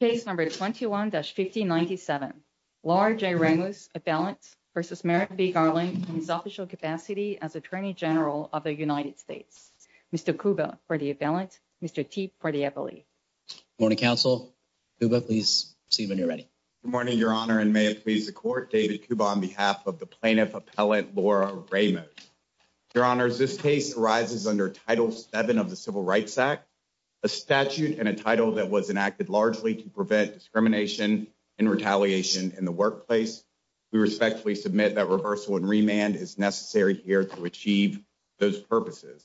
Case number 21-1597. Laura J. Ramos, appellant, v. Merrick B. Garland, in his official capacity as Attorney General of the United States. Mr. Kuba, for the appellant. Mr. Teep, for the appellee. Good morning, counsel. Kuba, please proceed when you're ready. Good morning, Your Honor, and may it please the Court, David Kuba, on behalf of the Plaintiff Appellant, Laura Ramos. Your Honors, this case arises under Title VII of the Civil Rights Act, a statute and a title that was enacted largely to prevent discrimination and retaliation in the workplace. We respectfully submit that reversal and remand is necessary here to achieve those purposes.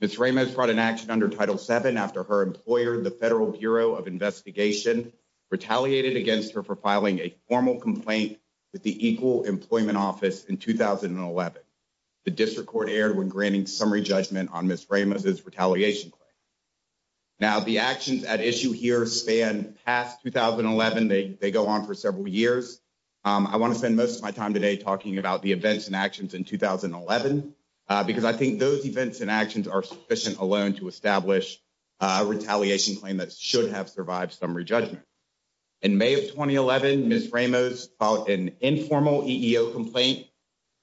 Ms. Ramos brought an action under Title VII after her employer, the Federal Bureau of Investigation, retaliated against her for filing a formal complaint with the Equal Employment Office in 2011. The District Court erred when granting summary judgment on Ms. Ramos' retaliation claim. Now, the actions at issue here span past 2011. They go on for several years. I want to spend most of my time today talking about the events and actions in 2011, because I think those events and actions are sufficient alone to establish a retaliation claim that should have survived summary judgment. In May of 2011, Ms. Ramos filed an informal EEO complaint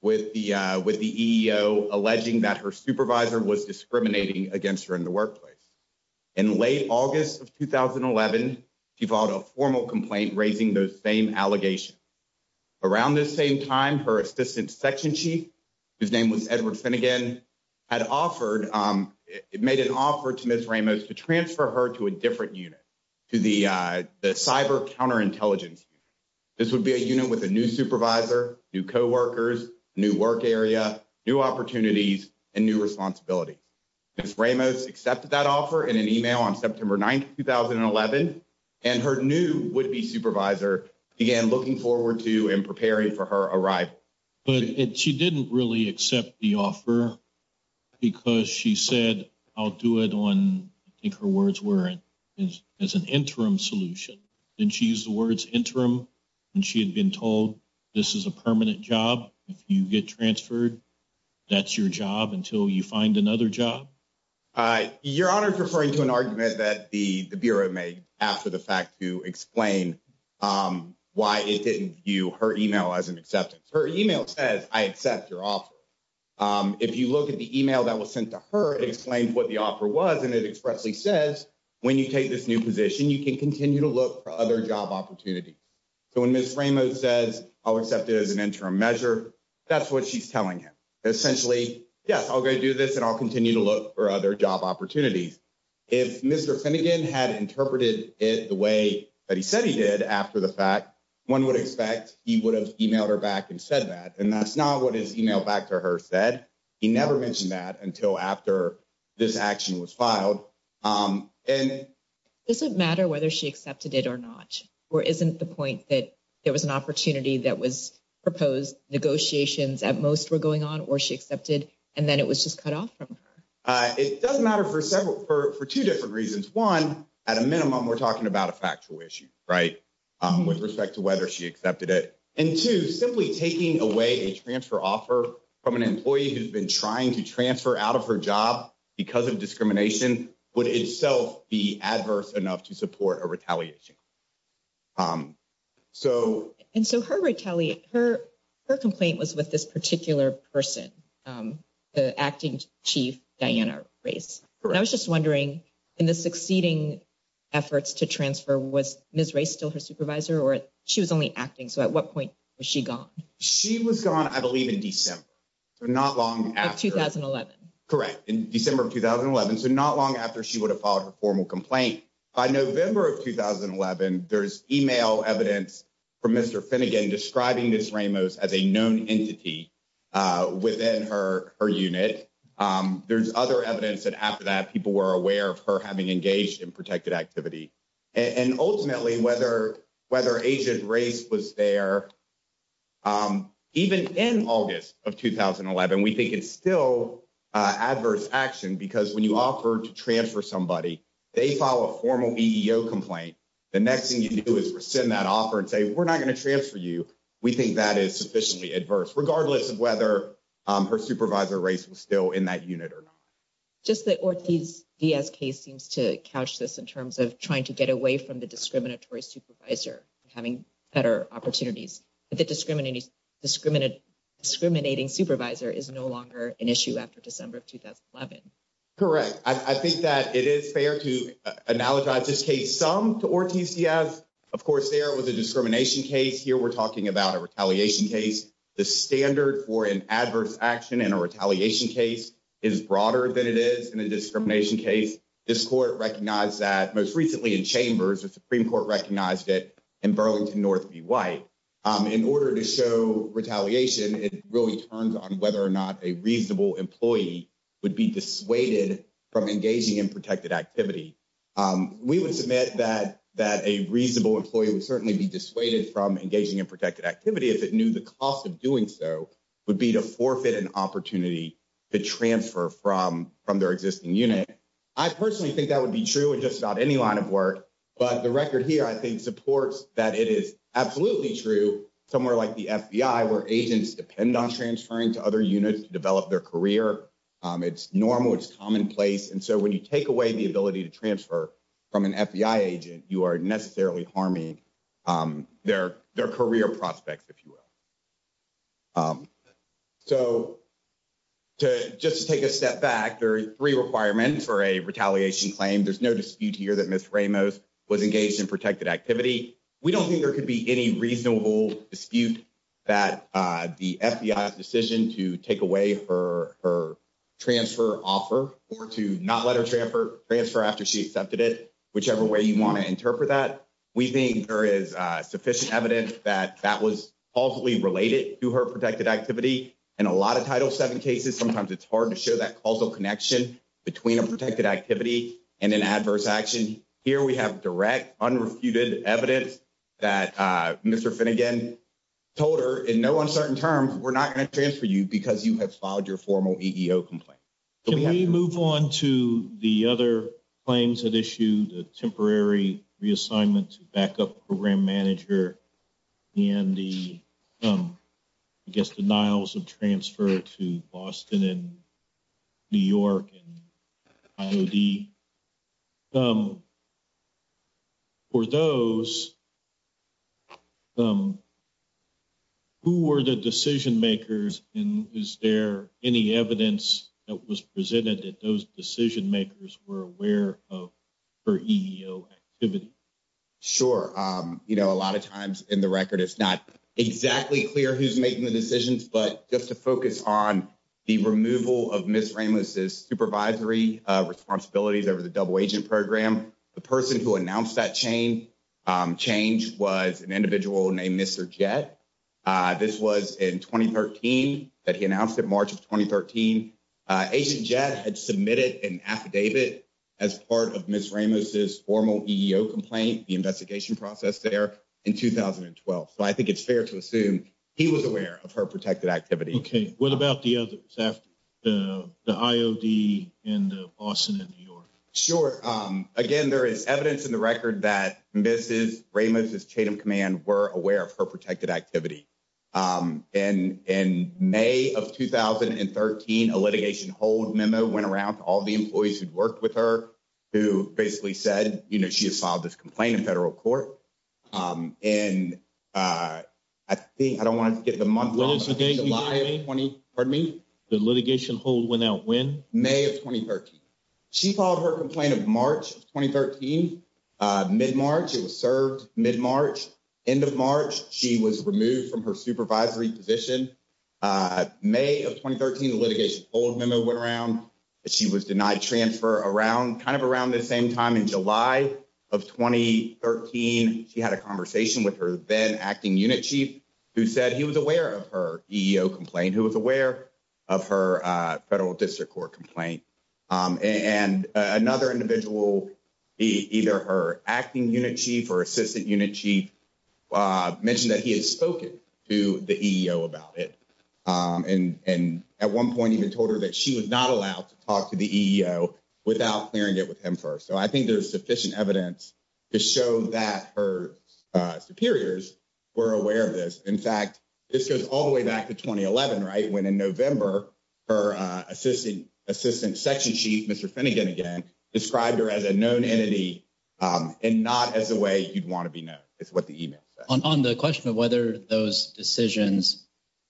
with the EEO, alleging that her supervisor was discriminating against her in the workplace. In late August of 2011, she filed a formal complaint raising those same allegations. Around this same time, her assistant section chief, whose name was Edward Finnegan, had made an offer to Ms. Ramos to transfer her to a different unit, to the Cyber Counterintelligence Unit. This would be a unit with a new supervisor, new co-workers, new work area, new opportunities, and new responsibilities. Ms. Ramos accepted that offer in an email on September 9, 2011, and her new would-be supervisor began looking forward to and preparing for her arrival. But she didn't really accept the offer because she said, I'll do it on, I think her words were, as an interim solution. Didn't she use the words interim when she had been told, this is a permanent job, if you get transferred, that's your job until you find another job? Your Honor, I'm referring to an argument that the Bureau made after the fact to explain why it didn't view her email as an acceptance. Her email says, I accept your offer. If you look at the email that was sent to her, it explained what the offer was, and it expressly says, when you take this new position, you can continue to look for other job opportunities. So when Ms. Ramos says, I'll accept it as an interim measure, that's what she's telling him. Essentially, yes, I'll go do this and I'll continue to look for other job opportunities. If Mr. Finnegan had interpreted it the way that he said he did after the fact, one would expect he would have emailed her back and said that. And that's not what his email back to her said. He never mentioned that until after this action was filed. Does it matter whether she accepted it or not? Or isn't the point that there was an opportunity that was proposed, negotiations at most were going on, or she accepted and then it was just cut off from her? It does matter for two different reasons. One, at a minimum, we're talking about a factual issue, right, with respect to whether she accepted it. And two, simply taking away a transfer offer from an employee who's been trying to transfer out of her job because of discrimination would itself be adverse enough to support a retaliation. And so her complaint was with this particular person, the acting chief, Diana Race. And I was just wondering, in the succeeding efforts to transfer, was Ms. Race still her supervisor or she was only acting? So at what point was she gone? She was gone, I believe, in December, not long after. 2011. Correct, in December of 2011. So not long after she would have filed her formal complaint. By November of 2011, there's email evidence from Mr. Finnegan describing Ms. Ramos as a known entity within her unit. There's other evidence that after that, people were aware of her having engaged in protected activity. And ultimately, whether Agent Race was there, even in August of 2011, we think it's still adverse action because when you offer to transfer somebody, they file a formal EEO complaint. The next thing you do is rescind that offer and say, we're not going to transfer you. We think that is sufficiently adverse, regardless of whether her supervisor, Race, was still in that unit or not. Just the Ortiz-DSK seems to couch this in terms of trying to get away from the discriminatory supervisor, having better opportunities. The discriminating supervisor is no longer an issue after December of 2011. Correct. I think that it is fair to analogize this case some to Ortiz-DSK. Of course, there was a discrimination case. Here, we're talking about a retaliation case. The standard for an adverse action in a retaliation case is broader than it is in a discrimination case. This court recognized that most recently in chambers, the Supreme Court recognized it in Burlington North v. White. In order to show retaliation, it really turns on whether or not a reasonable employee would be dissuaded from engaging in protected activity. We would submit that a reasonable employee would certainly be dissuaded from engaging in protected activity if it knew the cost of doing so would be to forfeit an opportunity to transfer from their existing unit. I personally think that would be true in just about any line of work. But the record here, I think, supports that it is absolutely true somewhere like the FBI, where agents depend on transferring to other units to develop their career. It's normal. It's commonplace. And so when you take away the ability to transfer from an FBI agent, you are necessarily harming their career prospects, if you will. So, just to take a step back, there are 3 requirements for a retaliation claim. There's no dispute here that Ms. Ramos was engaged in protected activity. We don't think there could be any reasonable dispute that the FBI's decision to take away her transfer offer or to not let her transfer after she accepted it, whichever way you want to interpret that. We think there is sufficient evidence that that was causally related to her protected activity. In a lot of Title 7 cases, sometimes it's hard to show that causal connection between a protected activity and an adverse action. Here we have direct unrefuted evidence that Mr. Finnegan told her in no uncertain terms, we're not going to transfer you because you have filed your formal EEO complaint. Can we move on to the other claims at issue, the temporary reassignment to backup program manager and the, I guess, denials of transfer to Boston and New York and IOD? For those, who were the decision-makers and is there any evidence that was presented that those decision-makers were aware of her EEO activity? Sure, a lot of times in the record, it's not exactly clear who's making the decisions, but just to focus on the removal of Ms. Ramos' supervisory responsibilities over the double agent program. The person who announced that change was an individual named Mr. Jett. This was in 2013 that he announced in March of 2013. Agent Jett had submitted an affidavit as part of Ms. Ramos' formal EEO complaint, the investigation process there in 2012. So, I think it's fair to assume he was aware of her protected activity. Okay, what about the others after the IOD and the Boston and New York? Sure, again, there is evidence in the record that Ms. Ramos' chain of command were aware of her protected activity. And in May of 2013, a litigation hold memo went around to all the employees who'd worked with her, who basically said, you know, she has filed this complaint in federal court. And I think, I don't want to get the month wrong, July of 20, pardon me? The litigation hold went out when? May of 2013. She filed her complaint in March of 2013, mid-March, it was served mid-March. End of March, she was removed from her supervisory position. May of 2013, the litigation hold memo went around. She was denied transfer around, kind of around the same time in July of 2013. She had a conversation with her then acting unit chief who said he was aware of her EEO complaint, who was aware of her federal district court complaint. And another individual, either her acting unit chief or assistant unit chief, mentioned that he had spoken to the EEO about it. And at one point even told her that she was not allowed to talk to the EEO without clearing it with him first. So I think there's sufficient evidence to show that her superiors were aware of this. In fact, this goes all the way back to 2011, right, when in November, her assistant section chief, Mr. Finnegan again, described her as a known entity and not as the way you'd want to be known, is what the email says. On the question of whether those decisions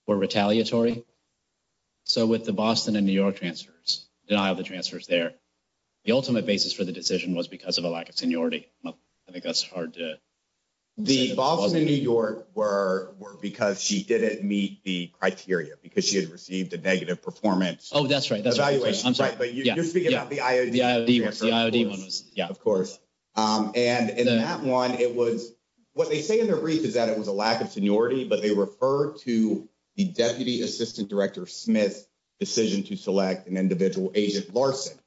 were retaliatory, so with the Boston and New York transfers, denial of the transfers there, the ultimate basis for the decision was because of a lack of seniority. I think that's hard to say. The Boston and New York were because she didn't meet the criteria because she had received a negative performance. Oh, that's right. That's right. But you're speaking about the IOD. The IOD one was, yeah. Of course. And in that one, it was, what they say in their brief is that it was a lack of seniority, but they refer to the deputy assistant director Smith's decision to select an individual agent Larson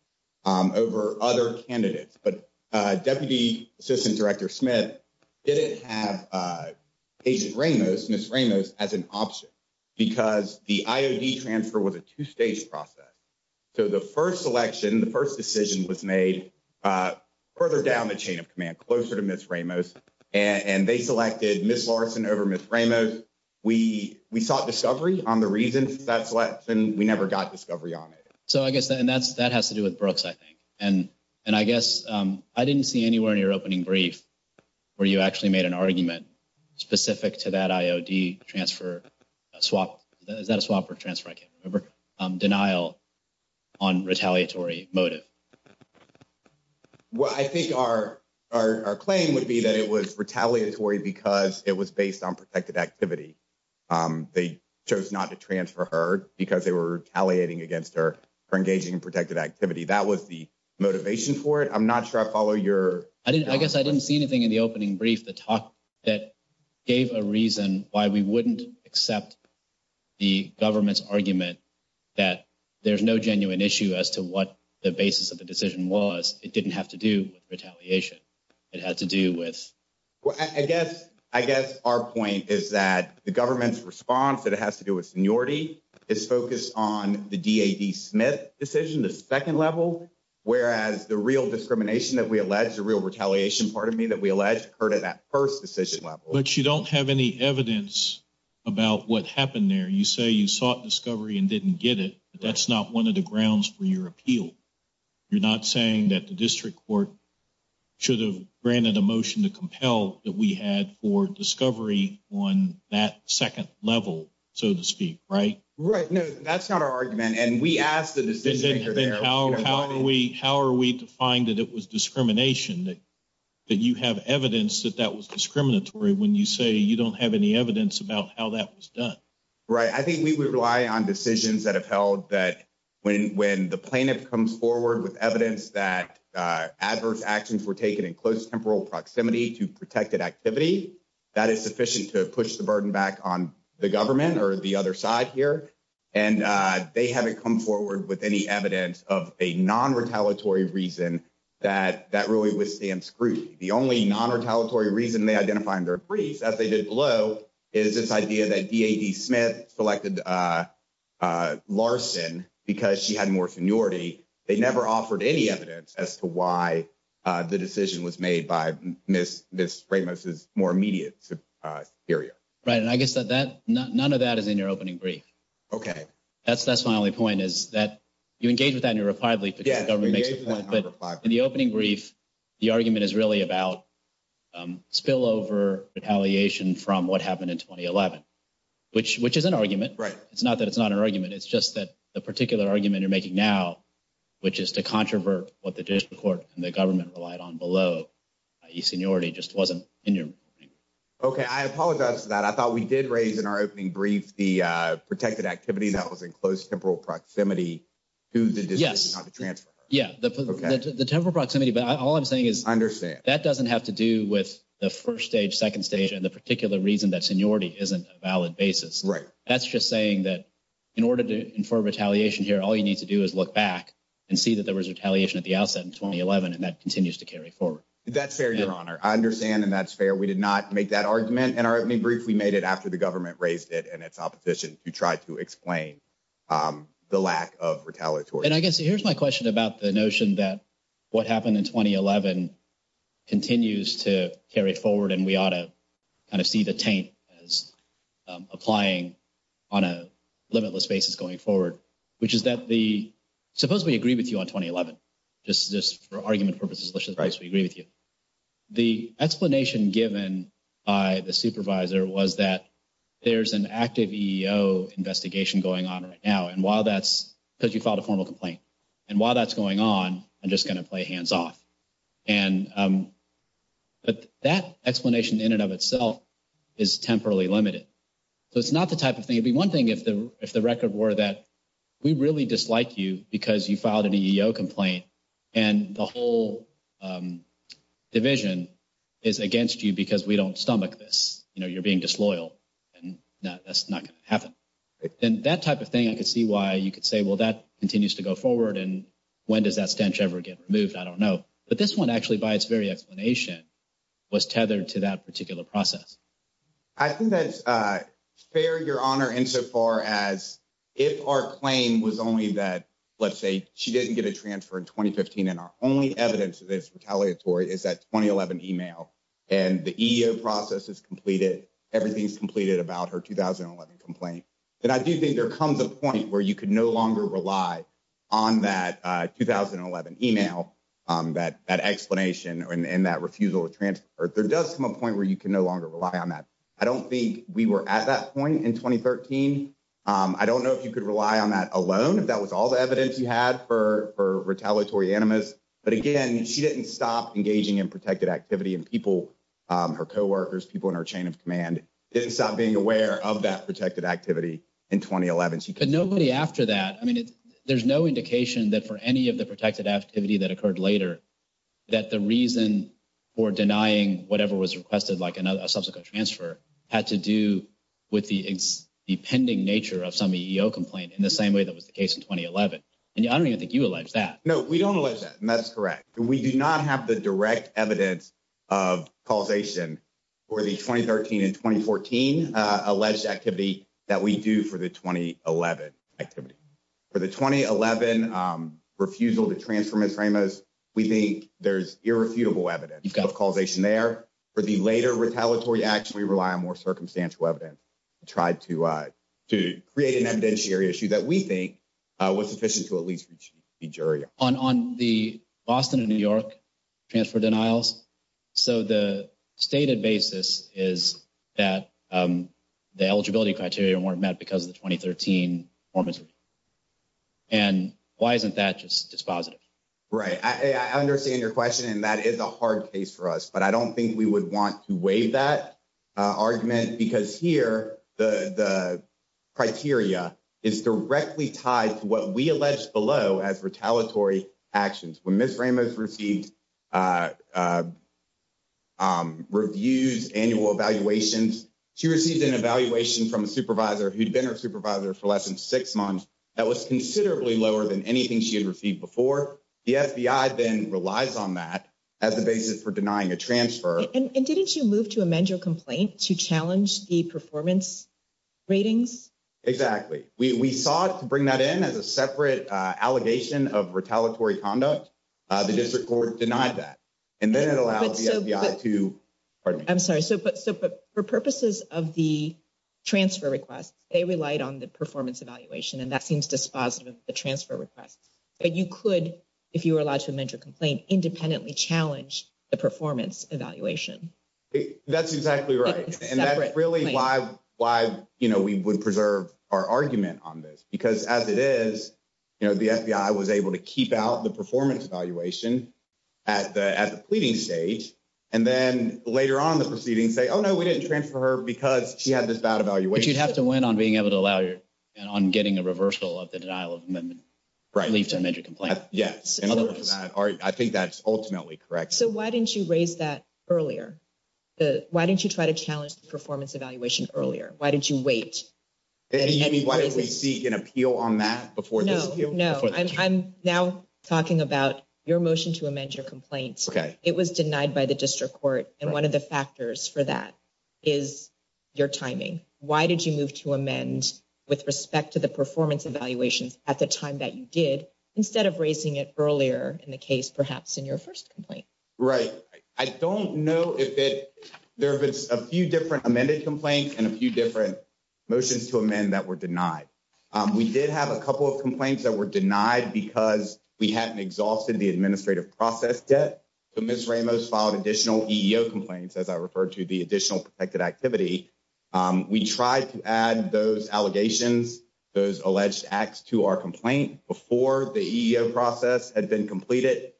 over other candidates. But deputy assistant director Smith didn't have Agent Ramos, Ms. Ramos, as an option because the IOD transfer was a two-stage process. So the first selection, the first decision was made further down the chain of command, closer to Ms. Ramos, and they selected Ms. Larson over Ms. Ramos. We sought discovery on the reasons for that selection. We never got discovery on it. So I guess that has to do with Brooks, I think. And I guess I didn't see anywhere in your opening brief where you actually made an argument specific to that IOD transfer swap. Is that a swap or transfer? I can't remember. Denial on retaliatory motive. Well, I think our claim would be that it was retaliatory because it was based on protected activity. They chose not to transfer her because they were retaliating against her for engaging in protected activity. That was the motivation for it. I'm not sure I follow your... I guess I didn't see anything in the opening brief that gave a reason why we wouldn't accept the government's argument that there's no genuine issue as to what the basis of the decision was. It didn't have to do with retaliation. It had to do with... I guess our point is that the government's response that it has to do with seniority is focused on the D.A.D. Smith decision, the second level. Whereas the real discrimination that we allege, the real retaliation, pardon me, that we allege occurred at that first decision level. But you don't have any evidence about what happened there. You say you sought discovery and didn't get it. That's not one of the grounds for your appeal. You're not saying that the district court should have granted a motion to compel that we had for discovery on that second level, so to speak, right? Right. No, that's not our argument. And we asked the decision maker there... How are we to find that it was discrimination, that you have evidence that that was discriminatory when you say you don't have any evidence about how that was done? Right. I think we would rely on decisions that have held that when the plaintiff comes forward with evidence that adverse actions were taken in close temporal proximity to protected activity, that is sufficient to push the burden back on the government or the other side here. And they haven't come forward with any evidence of a non-retaliatory reason that that really withstands scrutiny. The only non-retaliatory reason they identify in their briefs, as they did below, is this idea that D.A.D. Smith selected Larson because she had more seniority. They never offered any evidence as to why the decision was made by Ms. Ramos' more immediate superior. Right. And I guess that none of that is in your opening brief. Okay. That's my only point, is that you engage with that in your reply brief because the government makes a point. Yes, we engage with that in our reply brief. In the opening brief, the argument is really about spillover retaliation from what happened in 2011, which is an argument. Right. It's not that it's not an argument. It's just that the particular argument you're making now, which is to controvert what the judicial court and the government relied on below, i.e. seniority, just wasn't in your brief. Okay. I apologize for that. I thought we did raise in our opening brief the protected activity that was in close temporal proximity to the decision not to transfer her. Yes. It's in temporal proximity, but all I'm saying is that doesn't have to do with the first stage, second stage, and the particular reason that seniority isn't a valid basis. Right. That's just saying that in order to infer retaliation here, all you need to do is look back and see that there was retaliation at the outset in 2011, and that continues to carry forward. That's fair, Your Honor. I understand, and that's fair. We did not make that argument in our opening brief. We made it after the government raised it and its opposition to try to explain the lack of retaliatory. And I guess here's my question about the notion that what happened in 2011 continues to carry forward. And we ought to kind of see the taint as applying on a limitless basis going forward, which is that the suppose we agree with you on 2011. This is just for argument purposes. We agree with you. The explanation given by the supervisor was that there's an active investigation going on right now. And while that's because you filed a formal complaint and while that's going on, I'm just going to play hands off. And but that explanation in and of itself is temporarily limited. So it's not the type of thing. It'd be one thing if the record were that we really dislike you because you filed an EEO complaint and the whole division is against you because we don't stomach this. You know, you're being disloyal and that's not going to happen. And that type of thing, I could see why you could say, well, that continues to go forward. And when does that stench ever get removed? I don't know. But this one actually, by its very explanation, was tethered to that particular process. I think that's fair, Your Honor, insofar as if our claim was only that, let's say she didn't get a transfer in 2015. And our only evidence of this retaliatory is that 2011 email and the EEO process is completed. Everything's completed about her 2011 complaint. And I do think there comes a point where you can no longer rely on that 2011 email, that explanation and that refusal to transfer. There does come a point where you can no longer rely on that. I don't think we were at that point in 2013. I don't know if you could rely on that alone, if that was all the evidence you had for retaliatory animus. But again, she didn't stop engaging in protected activity. And people, her co-workers, people in her chain of command, didn't stop being aware of that protected activity in 2011. But nobody after that, I mean, there's no indication that for any of the protected activity that occurred later, that the reason for denying whatever was requested, like a subsequent transfer, had to do with the pending nature of some EEO complaint in the same way that was the case in 2011. And I don't even think you allege that. No, we don't allege that, and that's correct. We do not have the direct evidence of causation for the 2013 and 2014 alleged activity that we do for the 2011 activity. For the 2011 refusal to transfer Ms. Ramos, we think there's irrefutable evidence of causation there. For the later retaliatory action, we rely on more circumstantial evidence to try to create an evidentiary issue that we think was sufficient to at least reach a jury. On the Boston and New York transfer denials, so the stated basis is that the eligibility criteria weren't met because of the 2013 performance review. And why isn't that just dispositive? Right. I understand your question, and that is a hard case for us. But I don't think we would want to waive that argument, because here the criteria is directly tied to what we allege below as retaliatory actions. When Ms. Ramos received reviews, annual evaluations, she received an evaluation from a supervisor who'd been her supervisor for less than six months that was considerably lower than anything she had received before. The FBI then relies on that as the basis for denying a transfer. And didn't you move to amend your complaint to challenge the performance ratings? Exactly. We sought to bring that in as a separate allegation of retaliatory conduct. The district court denied that, and then it allowed the FBI to... I'm sorry, but for purposes of the transfer request, they relied on the performance evaluation, and that seems dispositive of the transfer request. But you could, if you were allowed to amend your complaint, independently challenge the performance evaluation. That's exactly right. And that's really why we would preserve our argument on this, because as it is, the FBI was able to keep out the performance evaluation at the pleading stage, and then later on in the proceedings say, oh, no, we didn't transfer her because she had this bad evaluation. But you'd have to win on being able to allow your... on getting a reversal of the denial of amendment. Leave to amend your complaint. Yes. I think that's ultimately correct. So why didn't you raise that earlier? Why didn't you try to challenge the performance evaluation earlier? Why didn't you wait? You mean, why didn't we seek an appeal on that before this? No, no. I'm now talking about your motion to amend your complaint. Okay. It was denied by the district court, and one of the factors for that is your timing. Why did you move to amend with respect to the performance evaluations at the time that you did, instead of raising it earlier in the case, perhaps in your first complaint? Right. I don't know if it... There have been a few different amended complaints and a few different motions to amend that were denied. We did have a couple of complaints that were denied because we hadn't exhausted the administrative process yet. So Ms. Ramos filed additional EEO complaints, as I referred to the additional protected activity. We tried to add those allegations, those alleged acts to our complaint before the EEO process had been completed,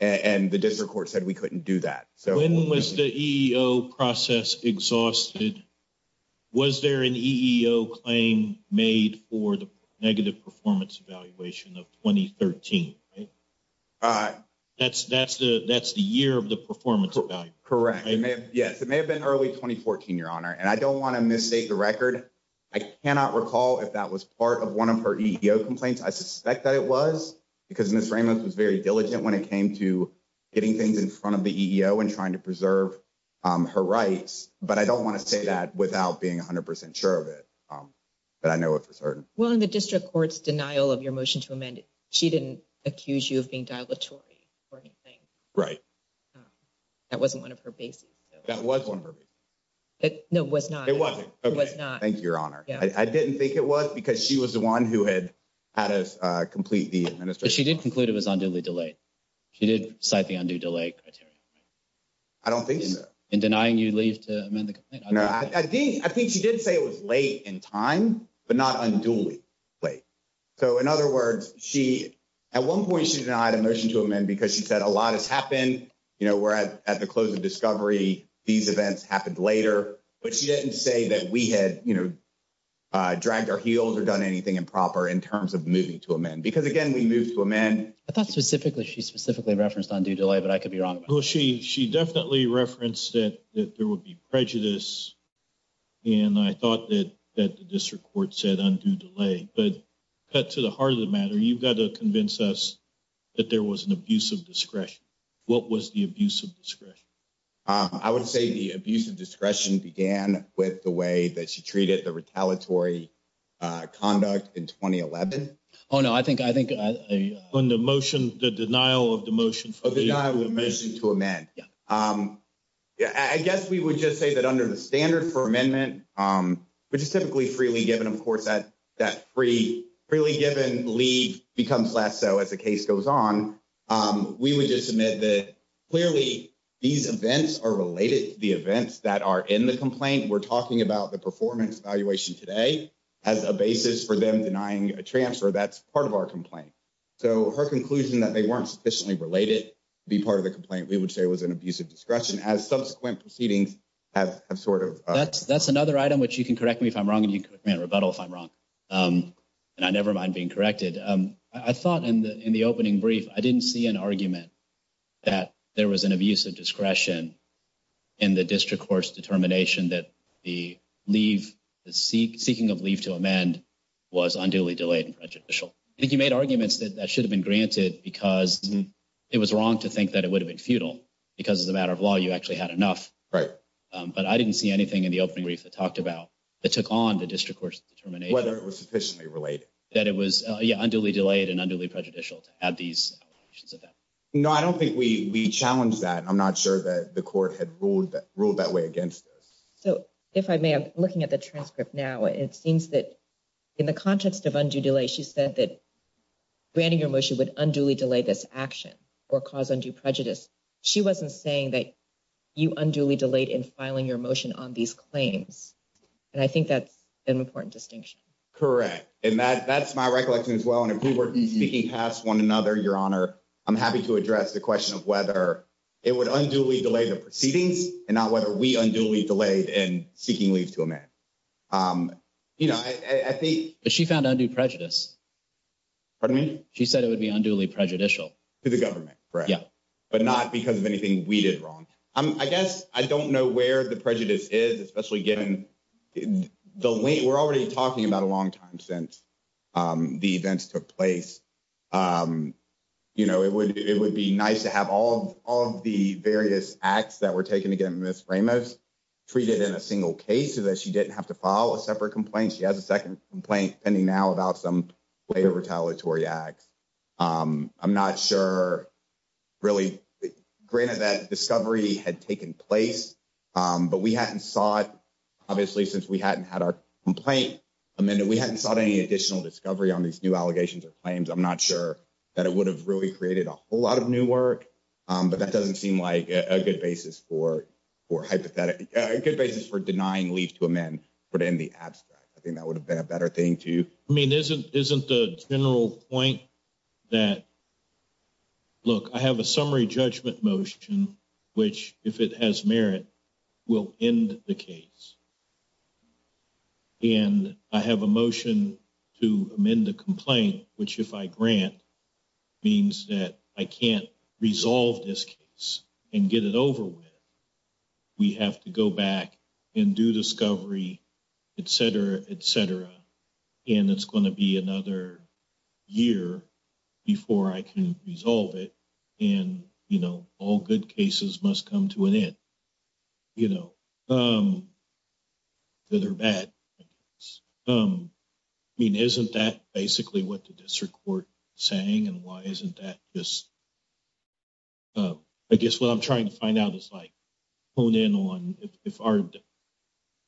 and the district court said we couldn't do that. When was the EEO process exhausted? Was there an EEO claim made for the negative performance evaluation of 2013? That's the year of the performance evaluation. Correct. Yes. It may have been early 2014, Your Honor. I don't want to misstate the record. I cannot recall if that was part of one of her EEO complaints. I suspect that it was because Ms. Ramos was very diligent when it came to getting things in front of the EEO and trying to preserve her rights, but I don't want to say that without being 100% sure of it. But I know it for certain. Well, in the district court's denial of your motion to amend it, she didn't accuse you of being dilatory or anything. Right. That wasn't one of her bases. That was one of her bases. No, it was not. It wasn't. It was not. Thank you, Your Honor. I didn't think it was because she was the one who had had us complete the administration. But she did conclude it was unduly delayed. She did cite the undue delay criteria. I don't think so. In denying you leave to amend the complaint? I think she did say it was late in time, but not unduly late. So, in other words, at one point she denied a motion to amend because she said a lot has happened. You know, we're at the close of discovery. These events happened later. But she didn't say that we had, you know, dragged our heels or done anything improper in terms of moving to amend. Because, again, we moved to amend. I thought specifically she specifically referenced undue delay, but I could be wrong. Well, she definitely referenced that there would be prejudice. And I thought that the district court said undue delay. But cut to the heart of the matter, you've got to convince us that there was an abuse of discretion. What was the abuse of discretion? I would say the abuse of discretion began with the way that she treated the retaliatory conduct in 2011. Oh, no. I think on the motion, the denial of the motion. Denial of the motion to amend. Yeah. I guess we would just say that under the standard for amendment, which is typically freely given. Of course, that freely given leave becomes less so as the case goes on. We would just submit that clearly these events are related to the events that are in the complaint. We're talking about the performance evaluation today as a basis for them denying a transfer. That's part of our complaint. So her conclusion that they weren't sufficiently related to be part of the complaint, we would say was an abuse of discretion. As subsequent proceedings have sort of. That's another item which you can correct me if I'm wrong and you can correct me in rebuttal if I'm wrong. And I never mind being corrected. I thought in the opening brief, I didn't see an argument that there was an abuse of discretion in the district court's determination that the seeking of leave to amend was unduly delayed and prejudicial. I think you made arguments that that should have been granted because it was wrong to think that it would have been futile because as a matter of law, you actually had enough. Right. But I didn't see anything in the opening brief that talked about that took on the district court's determination. Whether it was sufficiently related. That it was unduly delayed and unduly prejudicial to have these. No, I don't think we challenge that. I'm not sure that the court had ruled that way against us. So if I may, I'm looking at the transcript now. It seems that in the context of undue delay, she said that granting your motion would unduly delay this action or cause undue prejudice. She wasn't saying that you unduly delayed in filing your motion on these claims. And I think that's an important distinction. Correct. And that's my recollection as well. And if we were speaking past one another, Your Honor, I'm happy to address the question of whether it would unduly delay the proceedings and not whether we unduly delayed in seeking leave to amend. You know, I think. But she found undue prejudice. Pardon me? She said it would be unduly prejudicial. To the government, correct. Yeah. But not because of anything we did wrong. I guess I don't know where the prejudice is, especially given. We're already talking about a long time since the events took place. You know, it would be nice to have all of the various acts that were taken against Ms. Ramos treated in a single case so that she didn't have to file a separate complaint. She has a second complaint pending now about some later retaliatory acts. I'm not sure, really. Granted that discovery had taken place, but we hadn't saw it, obviously, since we hadn't had our complaint amended. We hadn't sought any additional discovery on these new allegations or claims. I'm not sure that it would have really created a whole lot of new work. But that doesn't seem like a good basis for a good basis for denying leave to amend. But in the abstract, I think that would have been a better thing to. I mean, isn't isn't the general point that. Look, I have a summary judgment motion, which, if it has merit, will end the case. And I have a motion to amend the complaint, which, if I grant, means that I can't resolve this case and get it over with. We have to go back and do discovery, et cetera, et cetera. And it's going to be another year before I can resolve it. And, you know, all good cases must come to an end. You know. That are bad. I mean, isn't that basically what the district court saying and why isn't that just. I guess what I'm trying to find out is, like, who then on if our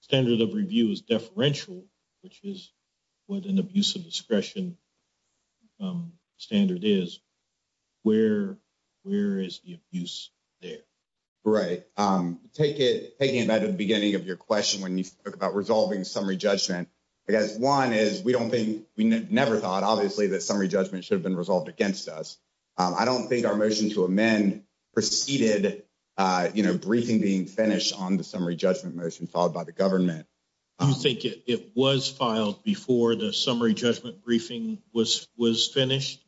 standard of review is differential, which is what an abuse of discretion standard is. Where where is the abuse there? Right. Take it taking it back to the beginning of your question when you talk about resolving summary judgment. I guess 1 is we don't think we never thought obviously that summary judgment should have been resolved against us. I don't think our motion to amend preceded briefing being finished on the summary judgment motion followed by the government. I think it was filed before the summary judgment briefing was was finished.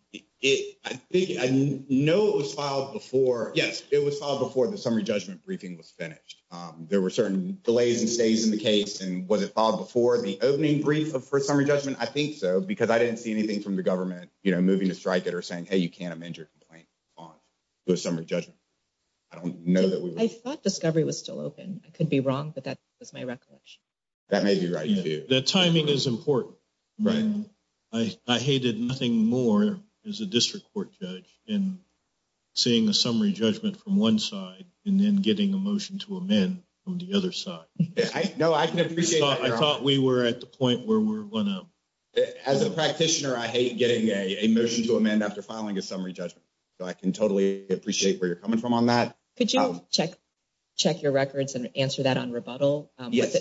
I think I know it was filed before. Yes, it was filed before the summary judgment briefing was finished. There were certain delays and stays in the case and was it filed before the opening brief for summary judgment? I think so, because I didn't see anything from the government moving to strike it or saying, hey, you can't amend your complaint on the summary judgment. I don't know that we thought discovery was still open. I could be wrong, but that was my recollection. That may be right. The timing is important. Right. I hated nothing more is a district court judge in seeing a summary judgment from 1 side and then getting a motion to amend on the other side. No, I can appreciate. I thought we were at the point where we're going to as a practitioner. I hate getting a motion to amend after filing a summary judgment. I can totally appreciate where you're coming from on that. Could you check check your records and answer that on rebuttal? Yes.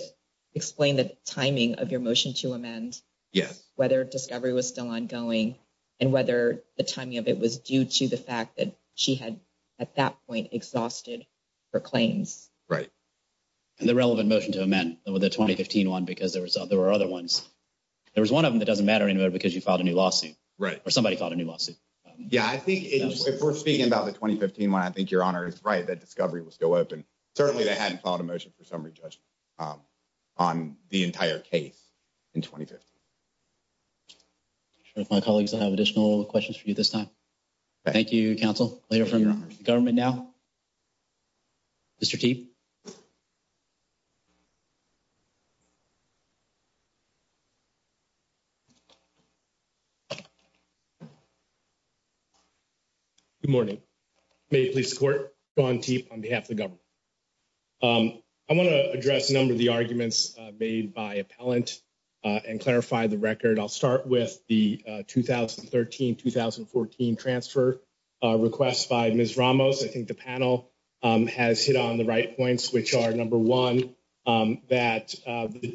Explain the timing of your motion to amend. Yes. Whether discovery was still ongoing and whether the timing of it was due to the fact that she had at that point exhausted her claims. Right. And the relevant motion to amend with a 2015 1 because there was there were other ones. There was 1 of them that doesn't matter anymore because you filed a new lawsuit. Right. Or somebody called a new lawsuit. Yeah, I think if we're speaking about the 2015 1, I think your honor is right. That discovery was still open. Certainly, they hadn't called a motion for summary judgment on the entire case in 2015. My colleagues will have additional questions for you this time. Thank you. Thank you counsel later from your government. Now, Mr. T. Good morning, may please court on T on behalf of the government. I want to address a number of the arguments made by a pellant and clarify the record. I'll start with the 2013 2014 transfer request by Miss Ramos. I think the panel has hit on the right points, which are number one that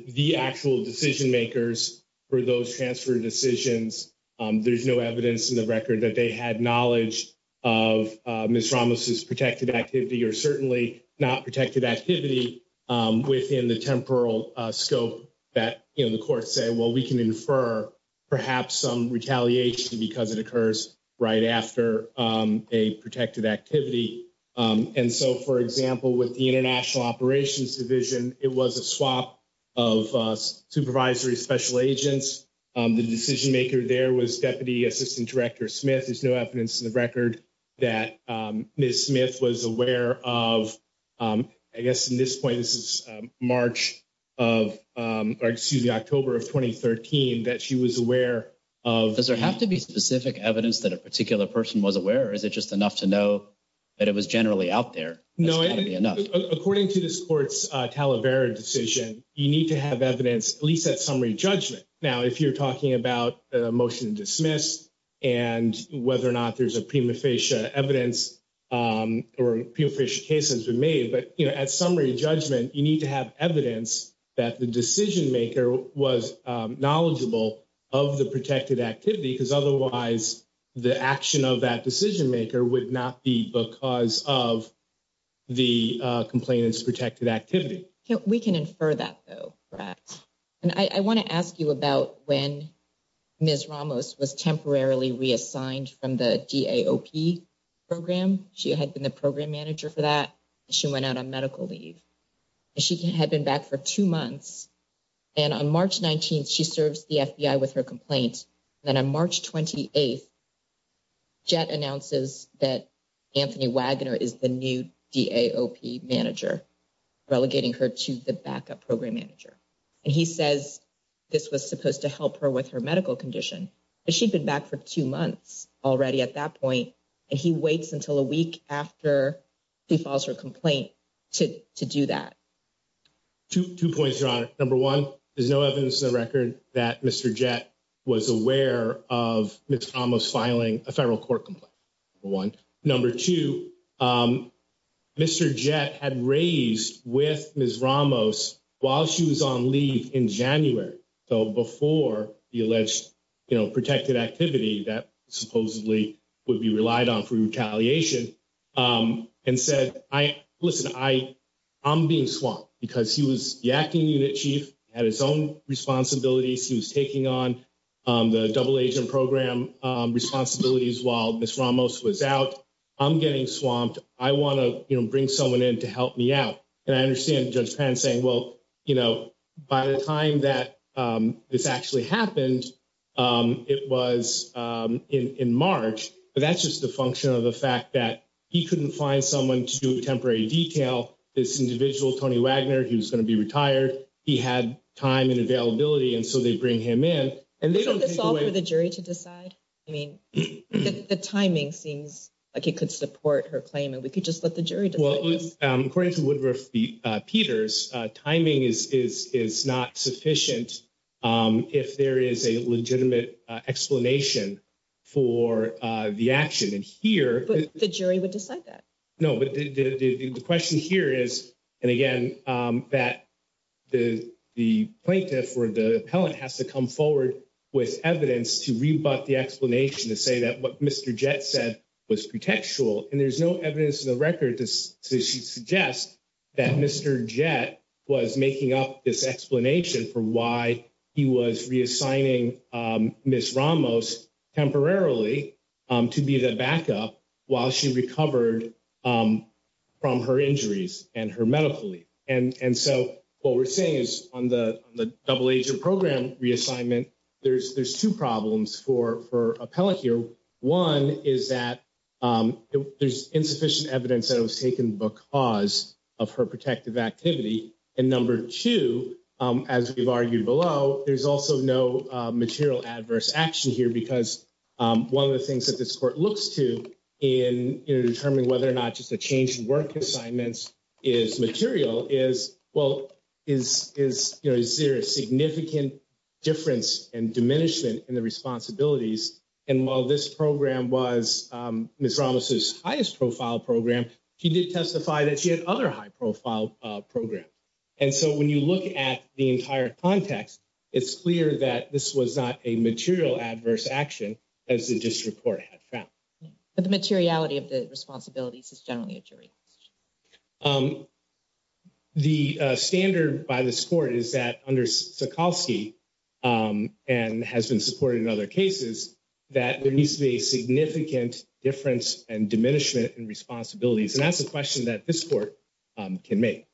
the actual decision makers for those transfer decisions. There's no evidence in the record that they had knowledge of Miss Ramos is protected activity or certainly not protected activity within the temporal scope that in the court say. Well, we can infer perhaps some retaliation because it occurs right after a protected activity. And so, for example, with the international operations division, it was a swap of supervisory special agents. The decision maker there was deputy assistant director Smith. There's no evidence in the record that Miss Smith was aware of. I guess in this point, this is March of excuse me, October of 2013 that she was aware of. Does there have to be specific evidence that a particular person was aware? Is it just enough to know that it was generally out there? No, according to the sports Talavera decision, you need to have evidence at least that summary judgment. Now, if you're talking about a motion to dismiss and whether or not there's a prima facie evidence or a few fish cases we made. But at summary judgment, you need to have evidence that the decision maker was knowledgeable of the protected activity because otherwise the action of that decision maker would not be because of the complainants protected activity. We can infer that, though. And I want to ask you about when Miss Ramos was temporarily reassigned from the program. She had been the program manager for that. She went out on medical leave. She had been back for two months and on March 19th, she serves the FBI with her complaints. Then on March 28th, jet announces that Anthony Wagner is the new manager relegating her to the backup program manager. And he says this was supposed to help her with her medical condition, but she'd been back for two months already at that point. And he waits until a week after he files her complaint to do that. Two points, your honor. Number one, there's no evidence in the record that Mr. Jet was aware of Miss Ramos filing a federal court complaint. One number two, Mr. Jet had raised with Miss Ramos while she was on leave in January. So before the alleged protected activity that supposedly would be relied on for retaliation and said, I listen, I, I'm being swamped. Because he was the acting unit chief, had his own responsibilities. He was taking on the double agent program responsibilities while Miss Ramos was out. I'm getting swamped. I want to bring someone in to help me out. And I understand Judge Penn saying, well, you know, by the time that this actually happened, it was in March. But that's just a function of the fact that he couldn't find someone to do a temporary detail. This individual, Tony Wagner, he was going to be retired. He had time and availability. And so they bring him in and they don't take away the jury to decide. I mean, the timing seems like it could support her claim. And we could just let the jury. Well, according to Woodruff Peters, timing is not sufficient. If there is a legitimate explanation for the action in here, the jury would decide that. No, but the question here is, and again, that the plaintiff or the appellant has to come forward with evidence to rebut the explanation to say that what Mr. Jett said was pretextual. And there's no evidence in the record to suggest that Mr. Jett was making up this explanation for why he was reassigning Miss Ramos temporarily to be the backup while she recovered. From her injuries and her medical leave. And so what we're saying is on the double agent program reassignment, there's two problems for appellate here. One is that there's insufficient evidence that was taken because of her protective activity. And number two, as we've argued below, there's also no material adverse action here because one of the things that this court looks to in determining whether or not just a change in work assignments is material is, well, is there a significant difference and diminishment in the responsibilities? And while this program was Miss Ramos's highest profile program, she did testify that she had other high profile program. And so when you look at the entire context, it's clear that this was not a material adverse action as the district court had found. But the materiality of the responsibilities is generally a jury. The standard by this court is that under Sikalsky and has been supported in other cases that there needs to be a significant difference and diminishment and responsibilities. And that's a question that this court can make.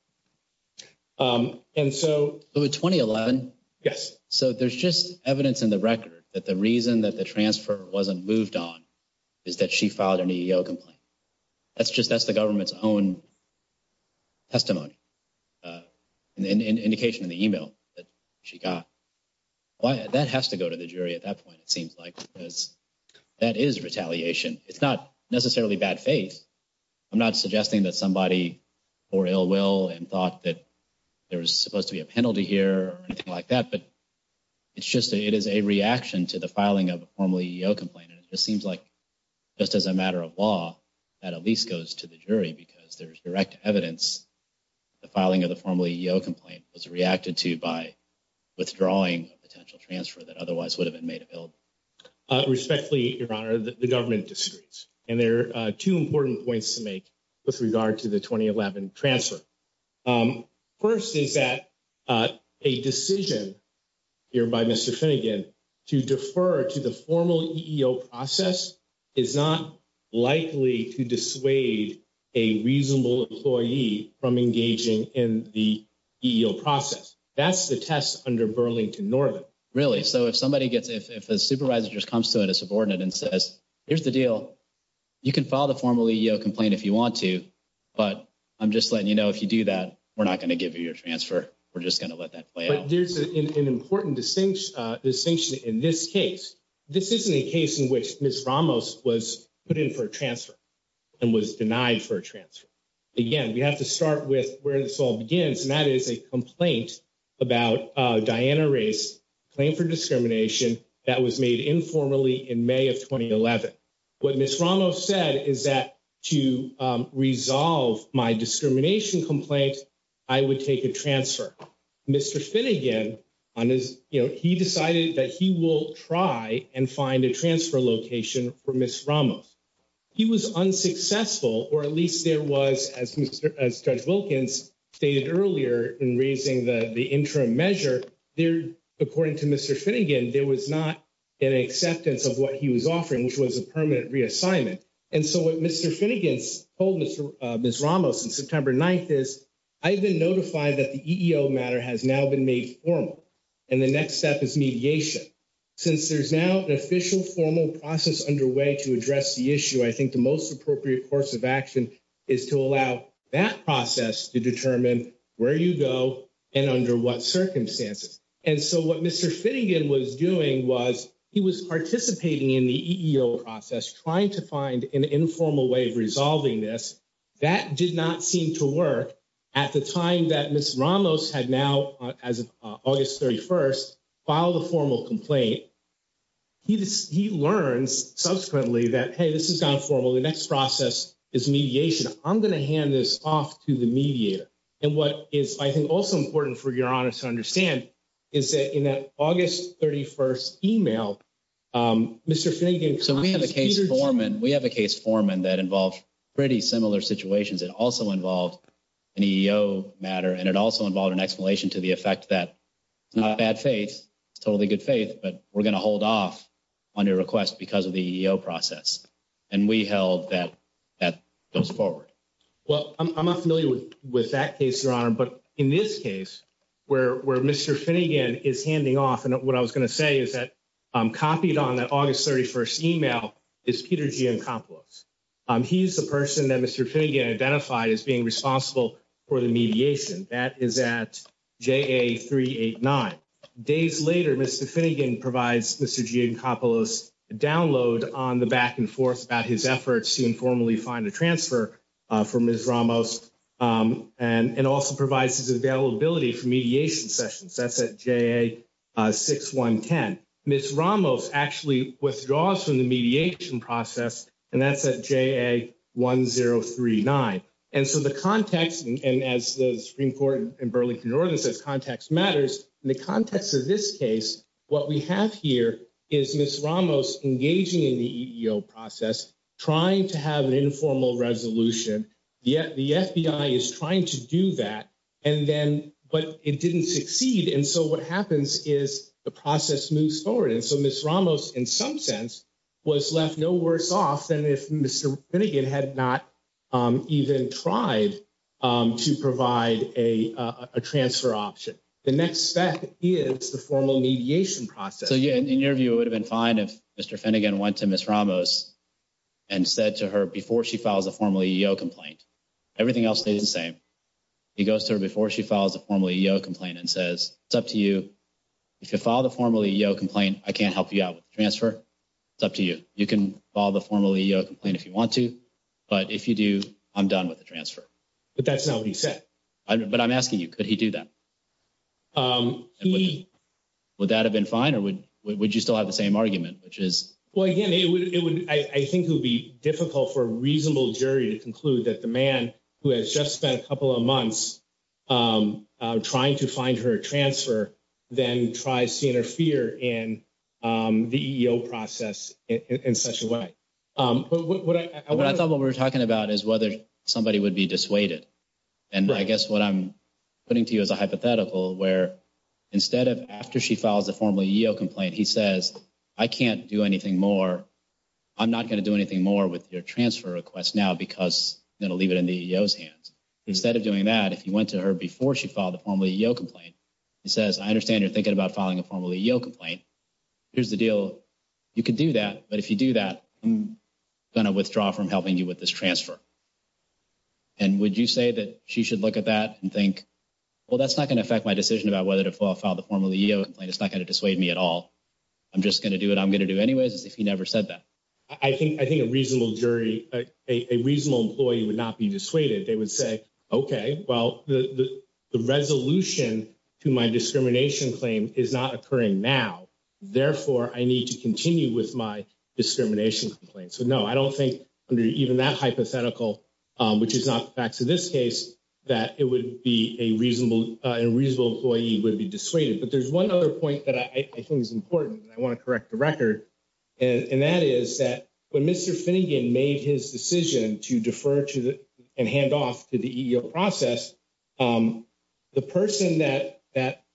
And so it was twenty eleven. Yes. So there's just evidence in the record that the reason that the transfer wasn't moved on is that she filed an EEO complaint. That's just that's the government's own testimony and indication in the email that she got. Why that has to go to the jury at that point, it seems like because that is retaliation. It's not necessarily bad faith. I'm not suggesting that somebody or ill will and thought that there was supposed to be a penalty here or anything like that. But it's just it is a reaction to the filing of a formal EEO complaint. And it just seems like just as a matter of law, that at least goes to the jury because there's direct evidence. The filing of the formal EEO complaint was reacted to by withdrawing potential transfer that otherwise would have been made available. Respectfully, your honor, the government districts and there are two important points to make with regard to the twenty eleven transfer. First, is that a decision here by Mr. Finnegan to defer to the formal EEO process is not likely to dissuade a reasonable employee from engaging in the EEO process. That's the test under Burlington Northern. Really? So if somebody gets if a supervisor just comes to it, a subordinate and says, here's the deal, you can file the formal EEO complaint if you want to. But I'm just letting you know, if you do that, we're not going to give you your transfer. We're just going to let that play out. There's an important distinction in this case. This isn't a case in which Ms. Ramos was put in for a transfer and was denied for a transfer. Again, we have to start with where this all begins. And that is a complaint about Diana Ray's claim for discrimination that was made informally in May of twenty eleven. What Ms. Ramos said is that to resolve my discrimination complaint, I would take a transfer. Mr. Finnegan, he decided that he will try and find a transfer location for Ms. Ramos. He was unsuccessful, or at least there was, as Judge Wilkins stated earlier in raising the interim measure. According to Mr. Finnegan, there was not an acceptance of what he was offering, which was a permanent reassignment. And so what Mr. Finnegan told Ms. Ramos on September 9th is, I've been notified that the EEO matter has now been made formal. And the next step is mediation. Since there's now an official formal process underway to address the issue, I think the most appropriate course of action is to allow that process to determine where you go and under what circumstances. And so what Mr. Finnegan was doing was he was participating in the EEO process, trying to find an informal way of resolving this. That did not seem to work at the time that Ms. Ramos had now, as of August thirty first, filed a formal complaint. He learns subsequently that, hey, this has gone formal. The next process is mediation. I'm going to hand this off to the mediator. And what is, I think, also important for your honor to understand is that in that August thirty first email, Mr. Finnegan. So we have a case foreman. We have a case foreman that involves pretty similar situations. It also involved an EEO matter, and it also involved an explanation to the effect that it's not bad faith. It's totally good faith, but we're going to hold off on your request because of the EEO process. And we held that that goes forward. Well, I'm not familiar with that case, your honor. But in this case, where Mr. Finnegan is handing off, and what I was going to say is that copied on that August thirty first email is Peter Giancopulos. He's the person that Mr. Finnegan identified as being responsible for the mediation. That is at J.A. three eight nine days later. Mr. Finnegan provides Mr. Giancopulos download on the back and forth about his efforts to informally find a transfer from his Ramos and also provides his availability for mediation sessions. That's at J.A. six one ten. Miss Ramos actually withdraws from the mediation process, and that's at J.A. one zero three nine. And so the context, and as the Supreme Court in Burlington, Northern says, context matters in the context of this case. What we have here is Miss Ramos engaging in the EEO process, trying to have an informal resolution. Yet the FBI is trying to do that and then but it didn't succeed. And so what happens is the process moves forward. And so Miss Ramos, in some sense, was left no worse off than if Mr. Finnegan had not even tried to provide a transfer option. The next step is the formal mediation process. So, yeah, in your view, it would have been fine if Mr. Finnegan went to Miss Ramos and said to her before she files a formal EEO complaint, everything else stays the same. He goes to her before she files a formal EEO complaint and says, it's up to you. If you file the formal EEO complaint, I can't help you out with the transfer. It's up to you. You can file the formal EEO complaint if you want to. But if you do, I'm done with the transfer. But that's not what he said. But I'm asking you, could he do that? Would that have been fine or would you still have the same argument? Well, again, I think it would be difficult for a reasonable jury to conclude that the man who has just spent a couple of months trying to find her a transfer then tries to interfere in the EEO process in such a way. But I thought what we were talking about is whether somebody would be dissuaded. And I guess what I'm putting to you is a hypothetical where instead of after she files a formal EEO complaint, he says, I can't do anything more. I'm not going to do anything more with your transfer request now because it'll leave it in the EEO's hands. Instead of doing that, if you went to her before she filed the formal EEO complaint, he says, I understand you're thinking about filing a formal EEO complaint. Here's the deal. You could do that. But if you do that, I'm going to withdraw from helping you with this transfer. And would you say that she should look at that and think, well, that's not going to affect my decision about whether to file the formal EEO complaint. It's not going to dissuade me at all. I'm just going to do what I'm going to do anyways, if he never said that. I think I think a reasonable jury, a reasonable employee would not be dissuaded. They would say, okay, well, the resolution to my discrimination claim is not occurring now. Therefore, I need to continue with my discrimination complaint. So, no, I don't think under even that hypothetical, which is not the facts of this case, that it would be a reasonable, a reasonable employee would be dissuaded. But there's one other point that I think is important and I want to correct the record. And that is that when Mr. Finnegan made his decision to defer to and hand off to the EEO process, the person that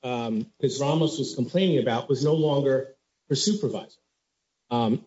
Ms. Ramos was complaining about was no longer her supervisor. And